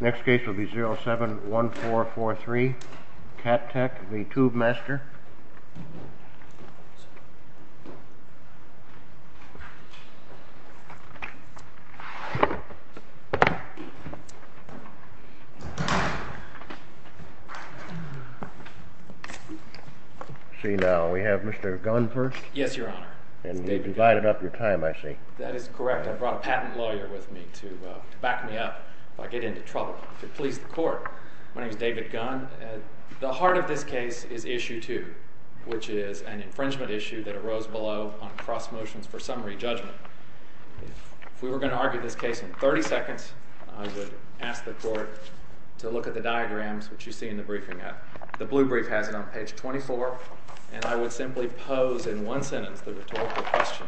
Next case will be 07-1443. Cat Tech v. Tubemaster. See now, we have Mr. Gunn first. Yes, your honor. And you've divided up your time, I see. That is correct. I brought a patent lawyer with me to back me up if I get into trouble, to please the court. My name is David Gunn. The heart of this case is Issue 2, which is an infringement issue that arose below on cross motions for summary judgment. If we were going to argue this case in 30 seconds, I would ask the court to look at the diagrams, which you see in the briefing app. The blue brief has it on page 24, and I would simply pose in one sentence the rhetorical question.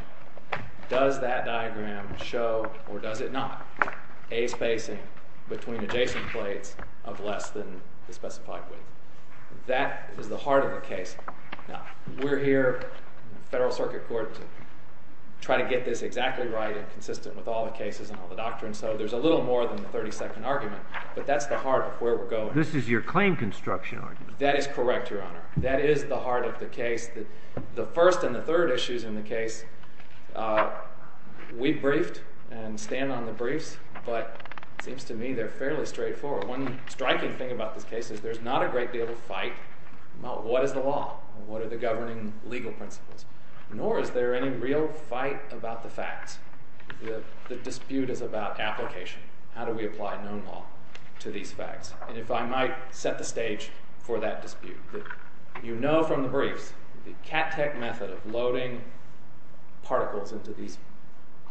Does that diagram show, or does it not, a spacing between adjacent plates of less than the specified width? That is the heart of the case. Now, we're here, the Federal Circuit Court, to try to get this exactly right and consistent with all the cases and all the doctrines, so there's a little more than the 30-second argument, but that's the heart of where we're going. This is your claim construction argument. That is correct, your honor. That is the heart of the case. The first and the third issues in the case, we briefed and stand on the briefs, but it seems to me they're fairly straightforward. One striking thing about this case is there's not a great deal of fight about what is the law, what are the governing legal principles, nor is there any real fight about the facts. The dispute is about application. How do we apply known law to these facts? And if I might set the stage for that dispute. You know from the briefs the cat-tech method of loading particles into these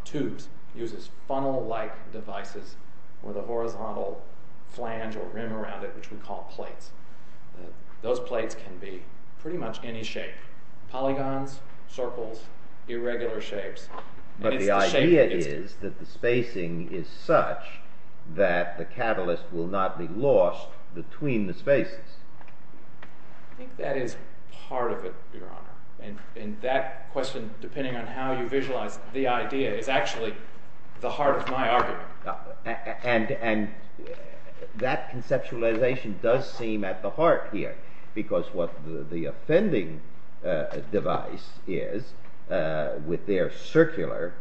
tubes uses funnel-like devices with a horizontal flange or rim around it, which we call plates. Those plates can be pretty much any shape, polygons, circles, irregular shapes. But the idea is that the spacing is such that the catalyst will not be lost between the spaces. I think that is part of it, your honor. And that question, depending on how you visualize the idea, is actually the heart of my argument. And that conceptualization does seem at the heart here, because what the offending device is, with their circular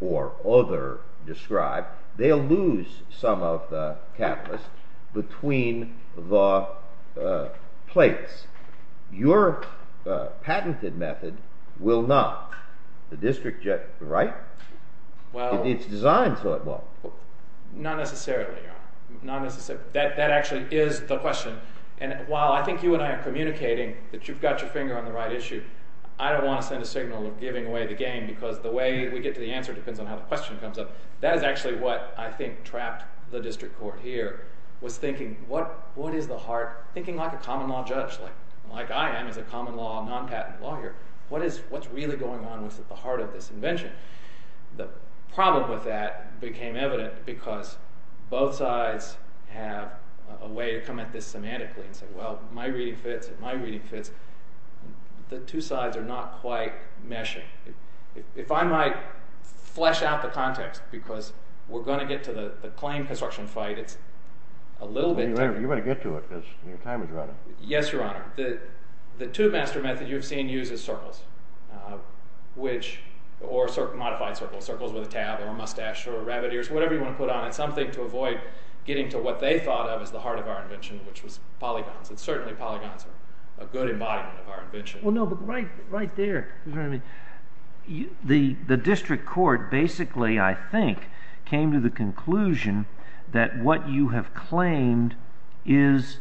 or other described, they'll lose some of the catalyst between the plates. Your patented method will not. The district judge, right? It's designed so it won't. Not necessarily, your honor. That actually is the question. And while I think you and I are communicating that you've got your finger on the right issue, I don't want to send a signal of giving away the game, because the way we get to the answer depends on how the question comes up. That is actually what I think trapped the district court here, was thinking, what is the heart? Thinking like a common law judge, like I am as a common law non-patent lawyer. What is really going on at the heart of this invention? The problem with that became evident because both sides have a way to come at this semantically and say, well, my reading fits and my reading fits. The two sides are not quite meshing. If I might flesh out the context, because we're going to get to the claim construction fight, it's a little bit... You better get to it, because your time is running. Yes, your honor. The two master method you've seen used is circles, or modified circles. Circles with a tab or a mustache or rabbit ears, whatever you want to put on it. Something to avoid getting to what they thought of as the heart of our invention, which was polygons. And certainly polygons are a good embodiment of our invention. Well, no, but right there, the district court basically, I think, came to the conclusion that what you have claimed is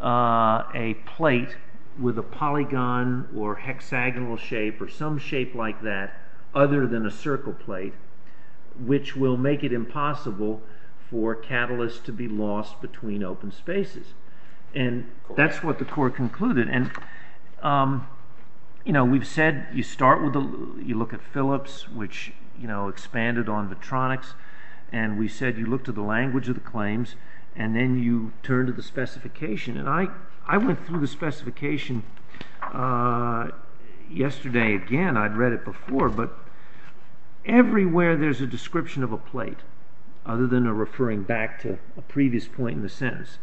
a plate with a polygon or hexagonal shape or some shape like that, other than a circle plate, which will make it impossible for catalysts to be lost between open spaces. And that's what the court concluded. And we've said you start with, you look at Phillips, which expanded on the tronics, and we said you look to the language of the claims, and then you turn to the specification. And I went through the specification yesterday again. I'd read it before, but everywhere there's a description of a plate, other than a referring back to a previous point in the sentence.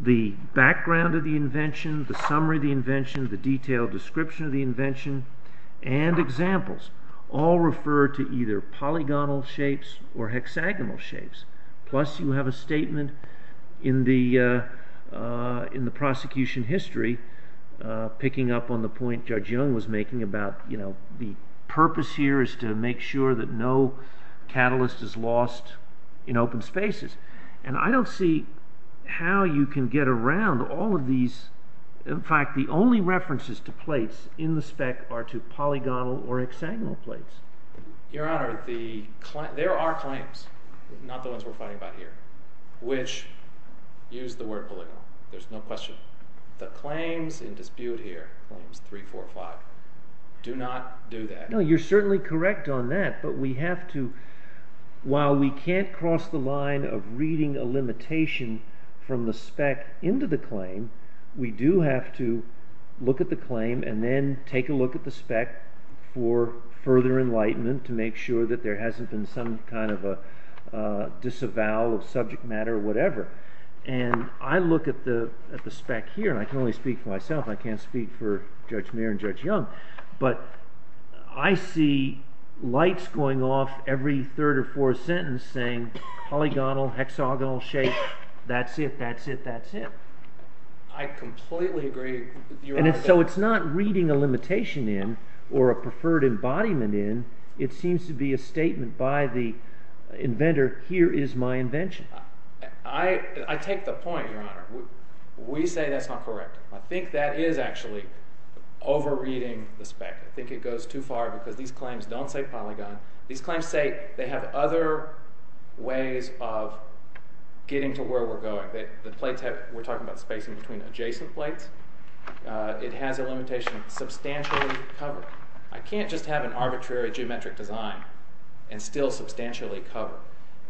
The background of the invention, the summary of the invention, the detailed description of the invention, and examples all refer to either polygonal shapes or hexagonal shapes. Plus, you have a statement in the prosecution history, picking up on the point Judge Young was making about, you know, the purpose here is to make sure that no catalyst is lost in open spaces. And I don't see how you can get around all of these. In fact, the only references to plates in the spec are to polygonal or hexagonal plates. Your Honor, there are claims, not the ones we're fighting about here, which use the word polygonal. There's no question. The claims in dispute here, claims 3, 4, 5, do not do that. No, you're certainly correct on that. But we have to, while we can't cross the line of reading a limitation from the spec into the claim, we do have to look at the claim and then take a look at the spec for further enlightenment to make sure that there hasn't been some kind of a disavowal of subject matter or whatever. And I look at the spec here, and I can only speak for myself. I can't speak for Judge Mayer and Judge Young. But I see lights going off every third or fourth sentence saying polygonal, hexagonal shape, that's it, that's it, that's it. I completely agree. And so it's not reading a limitation in or a preferred embodiment in. It seems to be a statement by the inventor, here is my invention. I take the point, Your Honor. We say that's not correct. I think that is actually over-reading the spec. I think it goes too far because these claims don't say polygon. These claims say they have other ways of getting to where we're going. We're talking about spacing between adjacent plates. It has a limitation substantially covered. I can't just have an arbitrary geometric design and still substantially cover.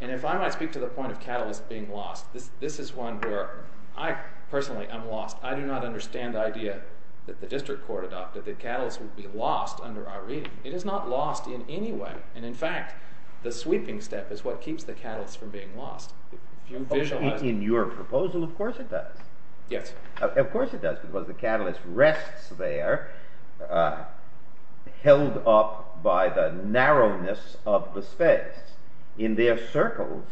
And if I might speak to the point of catalyst being lost, this is one where I personally am lost. I do not understand the idea that the district court adopted that catalyst would be lost under our reading. It is not lost in any way. And, in fact, the sweeping step is what keeps the catalyst from being lost. If you visualize it. In your proposal, of course it does. Yes. Of course it does because the catalyst rests there held up by the narrowness of the space. In their circles,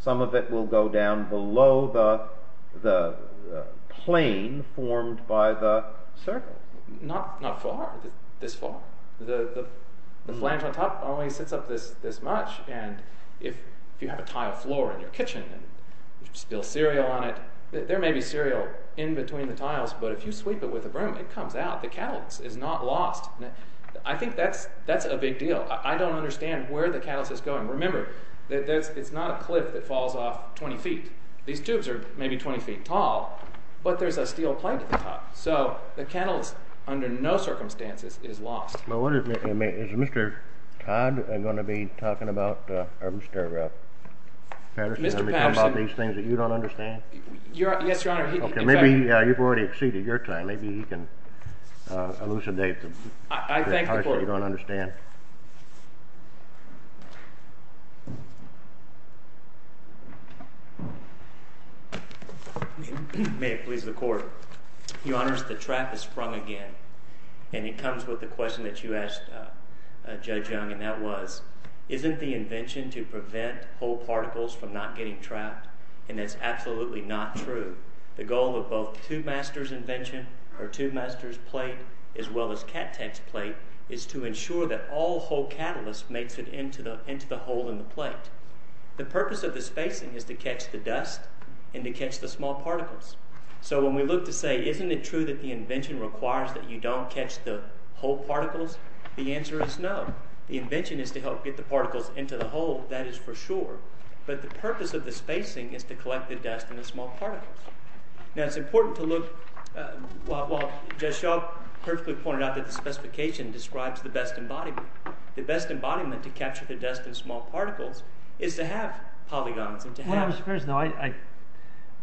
some of it will go down below the plane formed by the circle. Not far. This far. The flange on top only sits up this much. And if you have a tile floor in your kitchen and you spill cereal on it, there may be cereal in between the tiles. But if you sweep it with a broom, it comes out. The catalyst is not lost. I think that's a big deal. I don't understand where the catalyst is going. Remember, it's not a cliff that falls off 20 feet. These tubes are maybe 20 feet tall, but there's a steel plate at the top. So the catalyst, under no circumstances, is lost. Is Mr. Todd going to be talking about these things that you don't understand? Yes, Your Honor. Maybe you've already exceeded your time. Maybe he can elucidate the parts that you don't understand. Go ahead. May it please the Court. Your Honors, the trap has sprung again, and it comes with the question that you asked Judge Young, and that was, isn't the invention to prevent whole particles from not getting trapped? And that's absolutely not true. The goal of both Tubemaster's invention, or Tubemaster's plate, as well as Cat Tech's plate, is to ensure that all whole catalyst makes it into the hole in the plate. The purpose of the spacing is to catch the dust and to catch the small particles. So when we look to say, isn't it true that the invention requires that you don't catch the whole particles? The answer is no. The invention is to help get the particles into the hole, that is for sure. But the purpose of the spacing is to collect the dust and the small particles. Now, it's important to look, while Judge Young perfectly pointed out that the specification describes the best embodiment, the best embodiment to capture the dust and small particles is to have polygons and to have… What I'm supposed to know,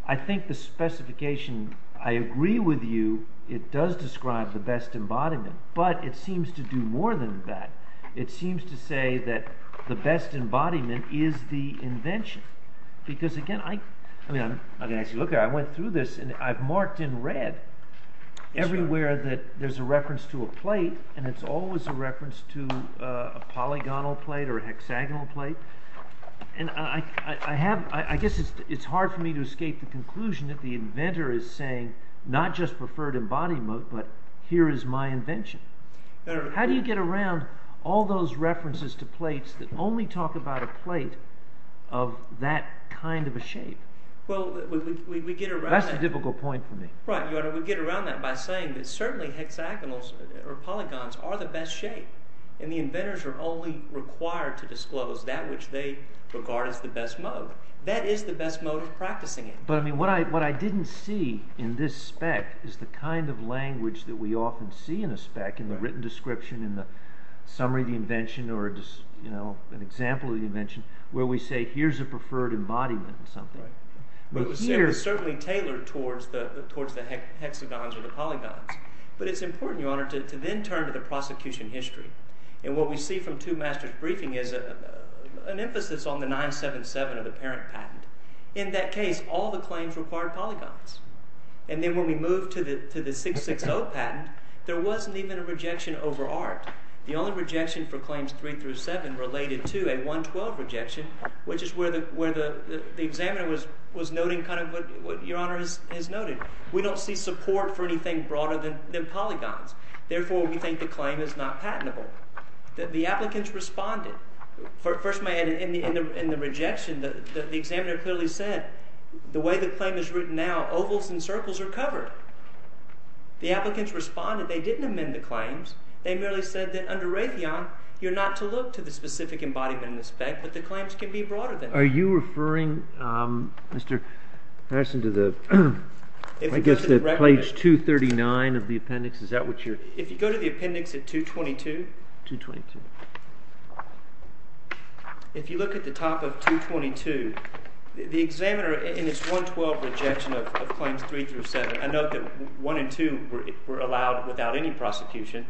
I think the specification, I agree with you, it does describe the best embodiment, but it seems to do more than that. It seems to say that the best embodiment is the invention. Because again, I went through this and I've marked in red everywhere that there's a reference to a plate and it's always a reference to a polygonal plate or a hexagonal plate. And I guess it's hard for me to escape the conclusion that the inventor is saying, not just preferred embodiment, but here is my invention. How do you get around all those references to plates that only talk about a plate of that kind of a shape? That's a difficult point for me. Right, Your Honor, we get around that by saying that certainly hexagonals or polygons are the best shape and the inventors are only required to disclose that which they regard as the best mode. That is the best mode of practicing it. But I mean, what I didn't see in this spec is the kind of language that we often see in a spec in the written description, in the summary of the invention, or an example of the invention, where we say here's a preferred embodiment of something. It was certainly tailored towards the hexagons or the polygons. But it's important, Your Honor, to then turn to the prosecution history. And what we see from two masters' briefing is an emphasis on the 977 of the parent patent. In that case, all the claims required polygons. And then when we move to the 660 patent, there wasn't even a rejection over art. The only rejection for claims 3 through 7 related to a 112 rejection, which is where the examiner was noting kind of what Your Honor has noted. We don't see support for anything broader than polygons. Therefore, we think the claim is not patentable. The applicants responded. First of all, in the rejection, the examiner clearly said, the way the claim is written now, ovals and circles are covered. The applicants responded. They didn't amend the claims. They merely said that under Raytheon, you're not to look to the specific embodiment in the spec, but the claims can be broader than that. Are you referring, Mr. Patterson, to the, I guess the page 239 of the appendix? If you go to the appendix at 222, if you look at the top of 222, the examiner in his 112 rejection of claims 3 through 7, I note that 1 and 2 were allowed without any prosecution,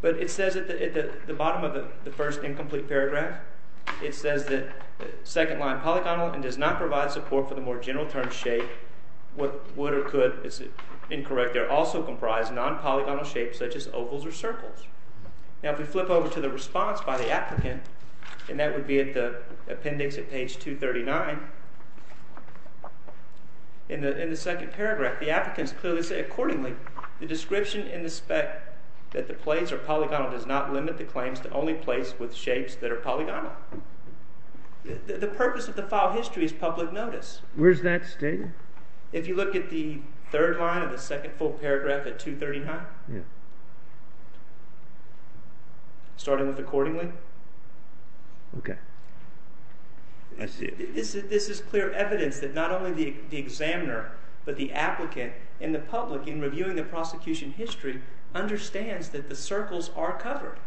but it says at the bottom of the first incomplete paragraph, it says that second line polygonal and does not provide support for the more general term shape, what would or could, it's incorrect, they're also comprised of non-polygonal shapes such as ovals or circles. Now, if we flip over to the response by the applicant, and that would be at the appendix at page 239, in the second paragraph, the applicants clearly say, accordingly, the description in the spec that the plates are polygonal does not limit the claims to only plates with shapes that are polygonal. The purpose of the file history is public notice. Where's that stated? If you look at the third line of the second full paragraph at 239, starting with accordingly, this is clear evidence that not only the examiner, but the applicant and the public in reviewing the prosecution history understands that the circles are covered.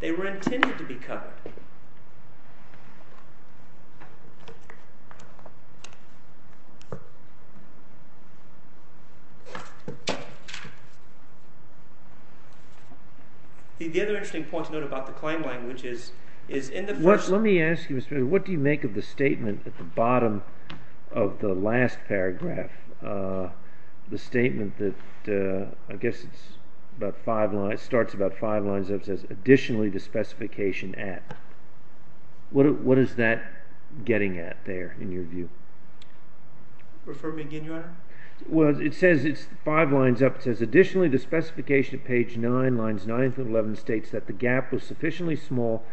They were intended to be covered. The other interesting point to note about the claim language is, is in the first... Let me ask you, Mr. Peter, what do you make of the statement at the bottom of the last paragraph? The statement that, I guess it's about five lines, starts about five lines up and says, additionally, the specification at. What is that getting at there, in your view? Refer me again, Your Honor? Well, it says it's five lines up. It says, additionally, the specification at page 9, lines 9 through 11, states that the gap was sufficiently small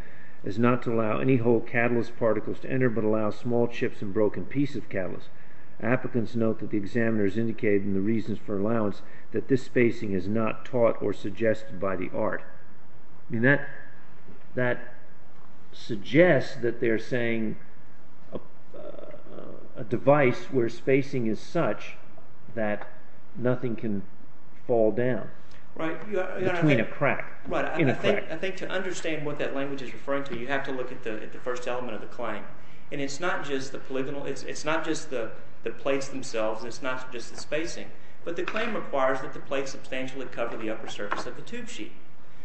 as not to allow any whole catalyst particles to enter, but allow small chips and broken pieces of catalyst. Applicants note that the examiner has indicated in the reasons for allowance that this spacing is not taught or suggested by the art. That suggests that they're saying a device where spacing is such that nothing can fall down between a crack. Right. I think to understand what that language is referring to, you have to look at the first element of the claim. And it's not just the polygonal... It's not just the plates themselves. It's not just the spacing. But the claim requires that the plates substantially cover the upper surface of the tube sheet.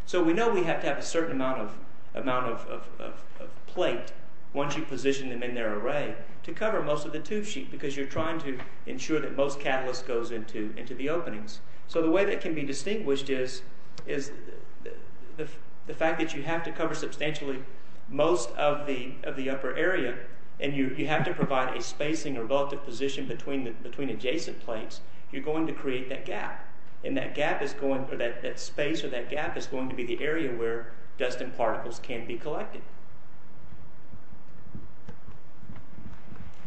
So we know we have to have a certain amount of plate, once you position them in their array, to cover most of the tube sheet because you're trying to ensure that most catalyst goes into the openings. So the way that can be distinguished is the fact that you have to cover substantially most of the upper area and you have to provide a spacing or relative position between adjacent plates, you're going to create that gap. And that gap is going... That space or that gap is going to be the area where dust and particles can be collected.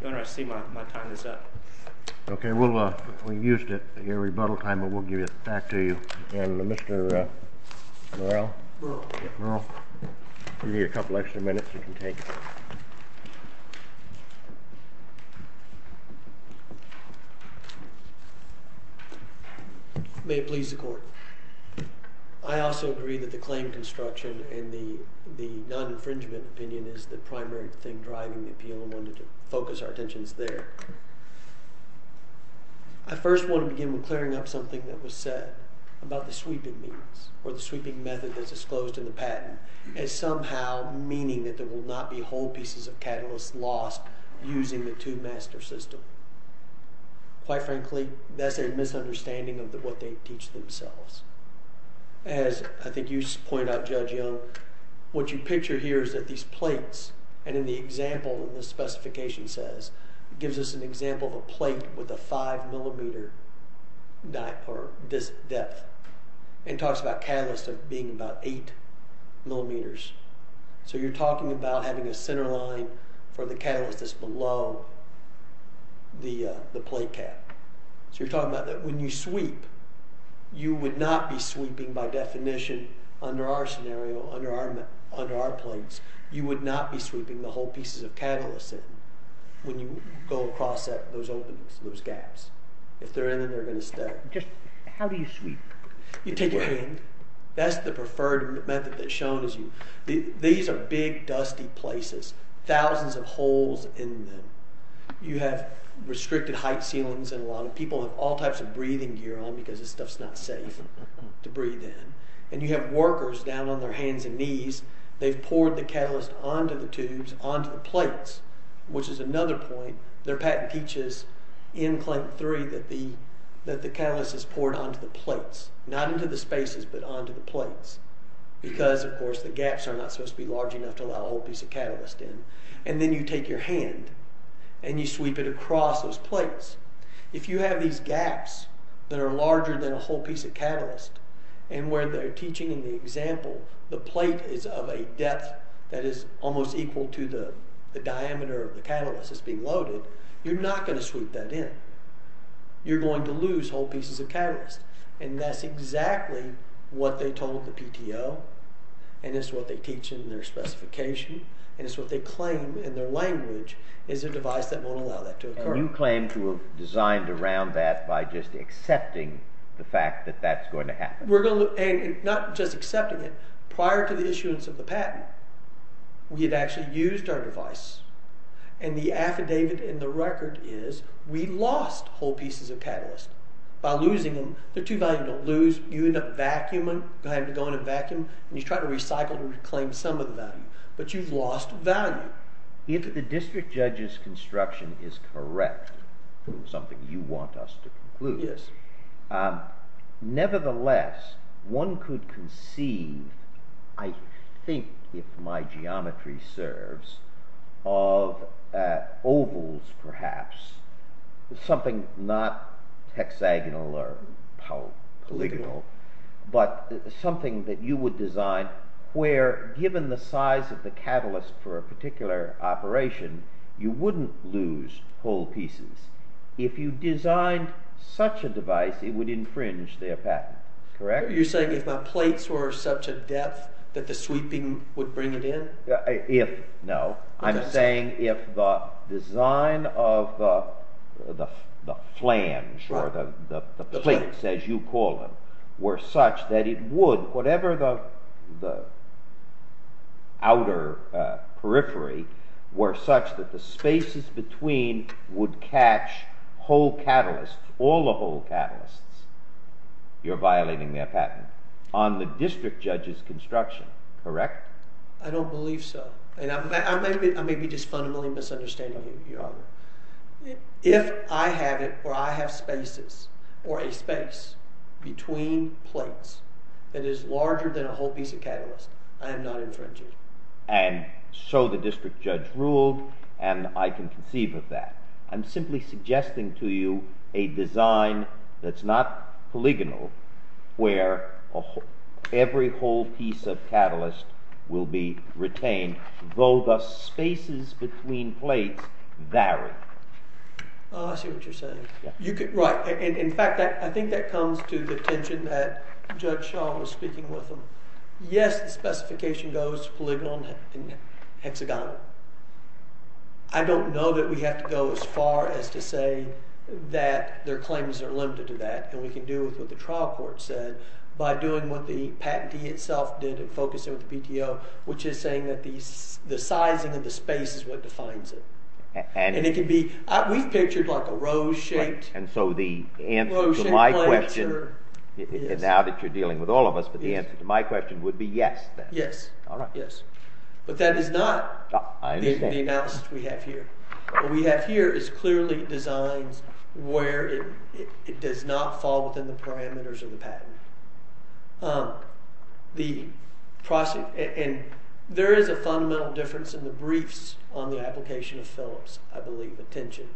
Your Honor, I see my time is up. Okay. We'll... We used your rebuttal time, but we'll give it back to you. And Mr. Murrell. Murrell. Murrell. We need a couple extra minutes. You can take it. May it please the Court. I also agree that the claim construction and the non-infringement opinion is the primary thing driving the appeal and wanted to focus our attentions there. I first want to begin with clearing up something that was said about the sweeping means, or the sweeping method that's disclosed in the patent, as somehow meaning that there will not be whole pieces of catalyst lost using the two-master system. Quite frankly, that's a misunderstanding of what they teach themselves. As I think you pointed out, Judge Young, what you picture here is that these plates, and in the example in the specification says, gives us an example of a plate with a 5-millimeter depth and talks about catalyst being about 8 millimeters. So you're talking about having a center line for the catalyst that's below the plate cap. So you're talking about that when you sweep, you would not be sweeping, by definition, under our scenario, under our plates, you would not be sweeping the whole pieces of catalyst in when you go across those openings, those gaps. If they're in them, they're going to stay. Just how do you sweep? You take your hand. That's the preferred method that's shown. These are big, dusty places, thousands of holes in them. You have restricted height ceilings in a lot of people, have all types of breathing gear on because this stuff's not safe to breathe in. And you have workers down on their hands and knees, they've poured the catalyst onto the tubes, onto the plates, which is another point. Their patent teaches in Clinton III that the catalyst is poured onto the plates, not into the spaces, but onto the plates, because, of course, the gaps are not supposed to be large enough to allow a whole piece of catalyst in. And then you take your hand and you sweep it across those plates. If you have these gaps that are larger than a whole piece of catalyst and where they're teaching in the example, the plate is of a depth that is almost equal to the diameter of the catalyst that's being loaded, you're not going to sweep that in. You're going to lose whole pieces of catalyst. And that's exactly what they told the PTO, and it's what they teach in their specification, and it's what they claim in their language is a device that won't allow that to occur. And you claim to have designed around that by just accepting the fact that that's going to happen. And not just accepting it. Prior to the issuance of the patent, we had actually used our device. And the affidavit in the record is, we lost whole pieces of catalyst by losing them. They're too valuable to lose. You end up vacuuming, having to go in a vacuum, and you try to recycle and reclaim some of the value. But you've lost value. If the district judge's construction is correct, which is something you want us to conclude, nevertheless, one could conceive, I think, if my geometry serves, of ovals, perhaps. Something not hexagonal or polygonal, but something that you would design where, given the size of the catalyst for a particular operation, you wouldn't lose whole pieces. If you designed such a device, it would infringe their patent. You're saying if my plates were such a depth that the sweeping would bring it in? If, no. I'm saying if the design of the flange, or the plates, as you call them, were such that it would, whatever the outer periphery, were such that the spaces between would catch whole catalysts, all the whole catalysts, you're violating their patent. On the district judge's construction, correct? I don't believe so. I may be just fundamentally misunderstanding you, Your Honor. If I have it, or I have spaces, or a space between plates that is larger than a whole piece of catalyst, I am not infringing. And so the district judge ruled, and I can conceive of that. I'm simply suggesting to you a design that's not polygonal, where every whole piece of catalyst will be retained, though the spaces between plates vary. I see what you're saying. In fact, I think that comes to the attention that Judge Shaw was speaking with them. Yes, the specification goes polygonal and hexagonal. I don't know that we have to go as far as to say that their claims are limited to that, and we can do with what the trial court said by doing what the patentee itself did in focusing with the PTO, which is saying that the sizing of the space is what defines it. And it can be... We've pictured like a rose-shaped... And so the answer to my question, now that you're dealing with all of us, but the answer to my question would be yes, then. Yes. All right. But that is not the analysis we have here. What we have here is clearly designs where it does not fall within the parameters of the patent. And there is a fundamental difference in the briefs on the application of Phillips, I believe, attention,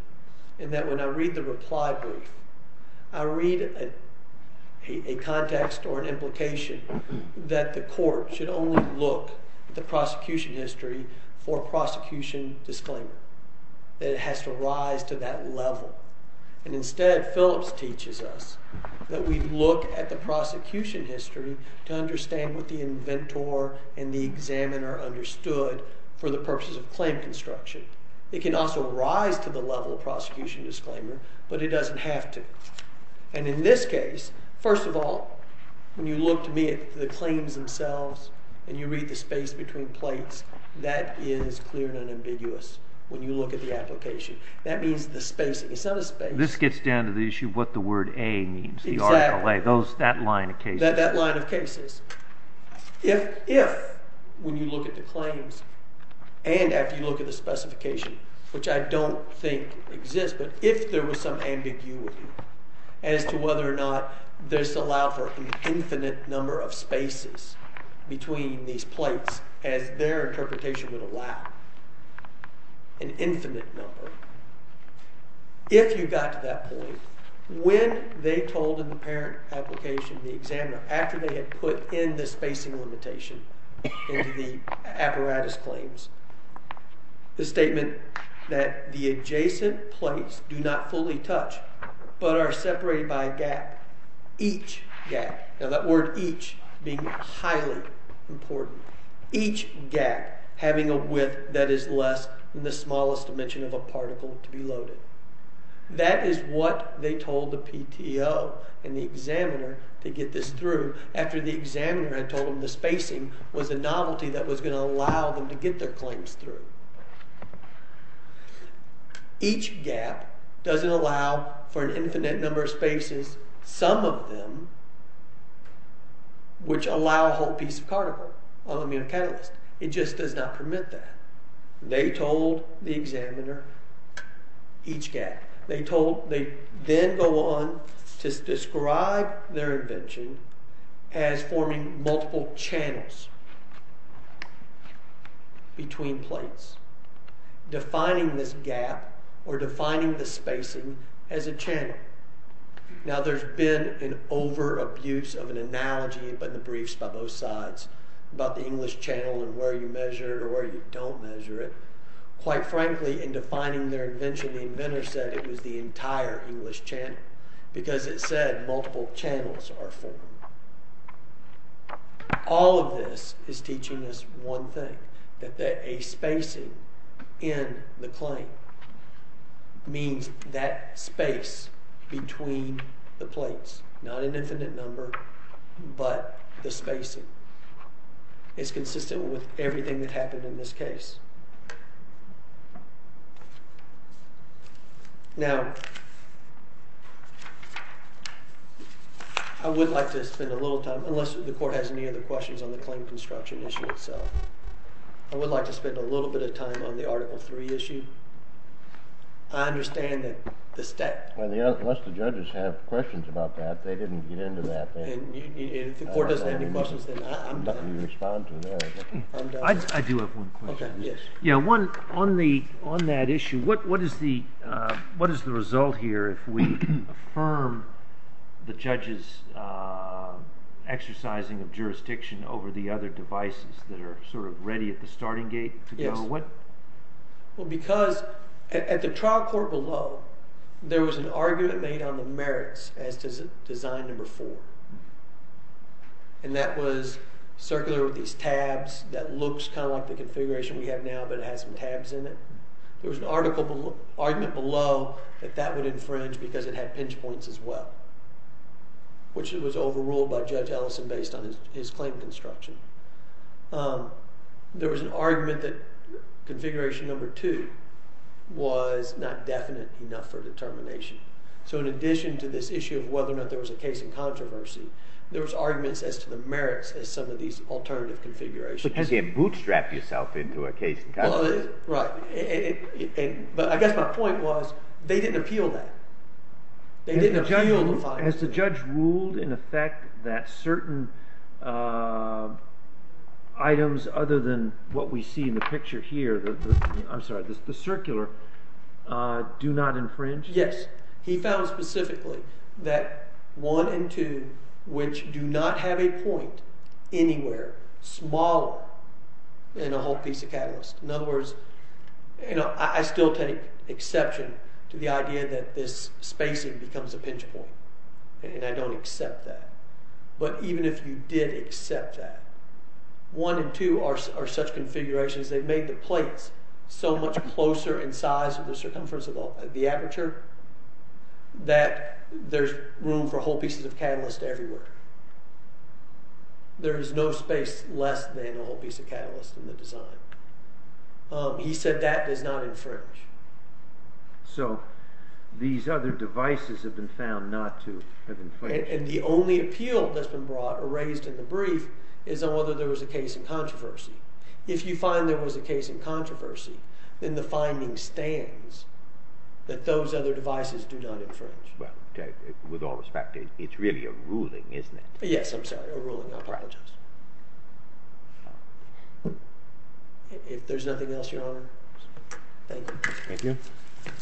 in that when I read the reply brief, I read a context or an implication that the court should only look at the prosecution history for prosecution disclaimer, that it has to rise to that level. And instead, Phillips teaches us that we look at the prosecution history to understand what the inventor and the examiner understood for the purposes of claim construction. It can also rise to the level of prosecution disclaimer, but it doesn't have to. And in this case, first of all, when you look to me at the claims themselves and you read the space between plates, that is clear and unambiguous when you look at the application. That means the spacing. It's not a space. This gets down to the issue of what the word A means, the article A, that line of cases. That line of cases. If, when you look at the claims and after you look at the specification, which I don't think exists, but if there was some ambiguity as to whether or not this allowed for an infinite number of spaces between these plates as their interpretation would allow, an infinite number, if you got to that point, when they told in the parent application, the examiner, after they had put in the spacing limitation into the apparatus claims, the statement that the adjacent plates do not fully touch but are separated by a gap, each gap. Now that word each being highly important. Each gap having a width that is less than the smallest dimension of a particle to be loaded. That is what they told the PTO and the examiner to get this through after the examiner had told them the spacing was a novelty that was going to allow them to get their claims through. Each gap doesn't allow for an infinite number of spaces. Some of them, which allow a whole piece of particle on the catalyst, it just does not permit that. They told the examiner each gap. They then go on to describe their invention as forming multiple channels between plates. Now there's been an over-abuse of an analogy in the briefs by both sides about the English channel and where you measure it or where you don't measure it. Quite frankly, in defining their invention, the inventor said it was the entire English channel because it said multiple channels are formed. All of this is teaching us one thing, that a spacing in the claim means that space between the plates, not an infinite number, but the spacing. It's consistent with everything that happened in this case. Now, I would like to spend a little time, unless the court has any other questions on the claim construction issue itself, I would like to spend a little bit of time on the Article III issue. I understand that the state... Unless the judges have questions about that, they didn't get into that. If the court doesn't have any questions, then I'm done. I do have one question. On that issue, what is the result here if we affirm the judge's exercising of jurisdiction over the other devices that are ready at the starting gate? Because at the trial court below, there was an argument made on the merits as to design number four. And that was circular with these tabs that looks kind of like the configuration we have now, but it has some tabs in it. There was an argument below that that would infringe because it had pinch points as well, which was overruled by Judge Ellison based on his claim construction. There was an argument that configuration number two was not definite enough for determination. So in addition to this issue of whether or not there was a case in controversy, there was arguments as to the merits as some of these alternative configurations. But you can't bootstrap yourself into a case in controversy. Right. But I guess my point was they didn't appeal that. They didn't appeal the final decision. Has the judge ruled in effect that certain items other than what we see in the picture here, I'm sorry, the circular, do not infringe? Yes. He found specifically that one and two, which do not have a point anywhere smaller than a whole piece of catalyst. In other words, I still take exception to the idea that this spacing becomes a pinch point. And I don't accept that. But even if you did accept that, one and two are such configurations, they made the plates so much closer in size with the circumference of the aperture that there's room for whole pieces of catalyst everywhere. There is no space less than a whole piece of catalyst in the design. He said that does not infringe. So these other devices have been found not to have infringed. And the only appeal that's been brought or raised in the brief is on whether there was a case in controversy. If you find there was a case in controversy, then the finding stands that those other devices do not infringe. Well, with all respect, it's really a ruling, isn't it? Yes, I'm sorry, a ruling. I apologize. If there's nothing else, Your Honor. Thank you. Thank you.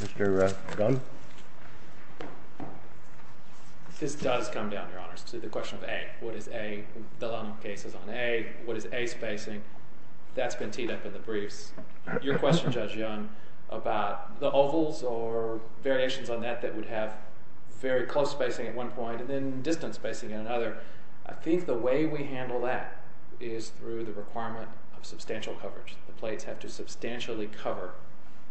Mr. Dunn? This does come down, Your Honor, to the question of A. What is A? The Lano case is on A. What is A spacing? That's been teed up in the briefs. Your question, Judge Young, about the ovals or variations on that that would have very close spacing at one point and then distant spacing at another, I think the way we handle that is through the requirement of substantial coverage. The plates have to substantially cover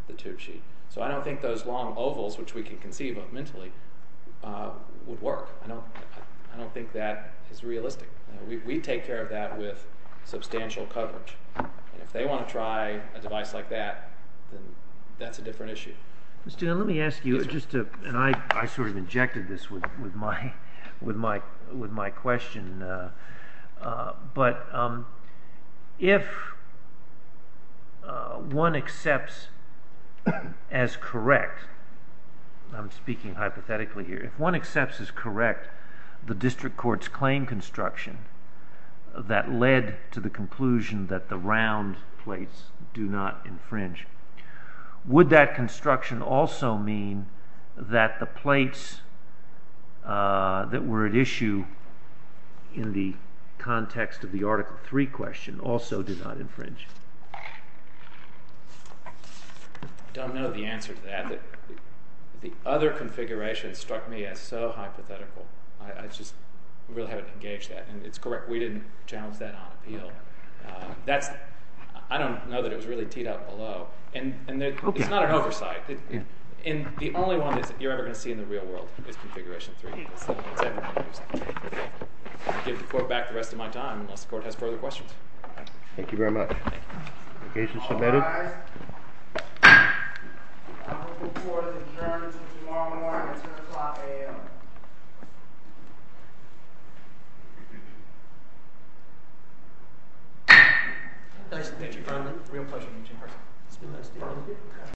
the tube sheet. So I don't think those long ovals, which we can conceive of mentally, would work. I don't think that is realistic. We take care of that with substantial coverage. And if they want to try a device like that, then that's a different issue. Mr. Dunn, let me ask you, and I sort of injected this with my question, but if one accepts as correct, I'm speaking hypothetically here, if one accepts as correct the district court's claim construction that led to the conclusion that the round plates do not infringe, would that construction also mean that the plates that were at issue in the context of the Article III question also did not infringe? I don't know the answer to that. The other configuration struck me as so hypothetical. I just really haven't engaged that. And it's correct. We didn't challenge that on appeal. I don't know that it was really teed up below. And it's not an oversight. And the only one that you're ever going to see in the real world is Configuration III. I'll give the court back the rest of my time unless the court has further questions. Thank you very much. All rise. I move that the Court adjourns until tomorrow morning at 10 o'clock a.m. Nice to meet you. It's a real pleasure to meet you.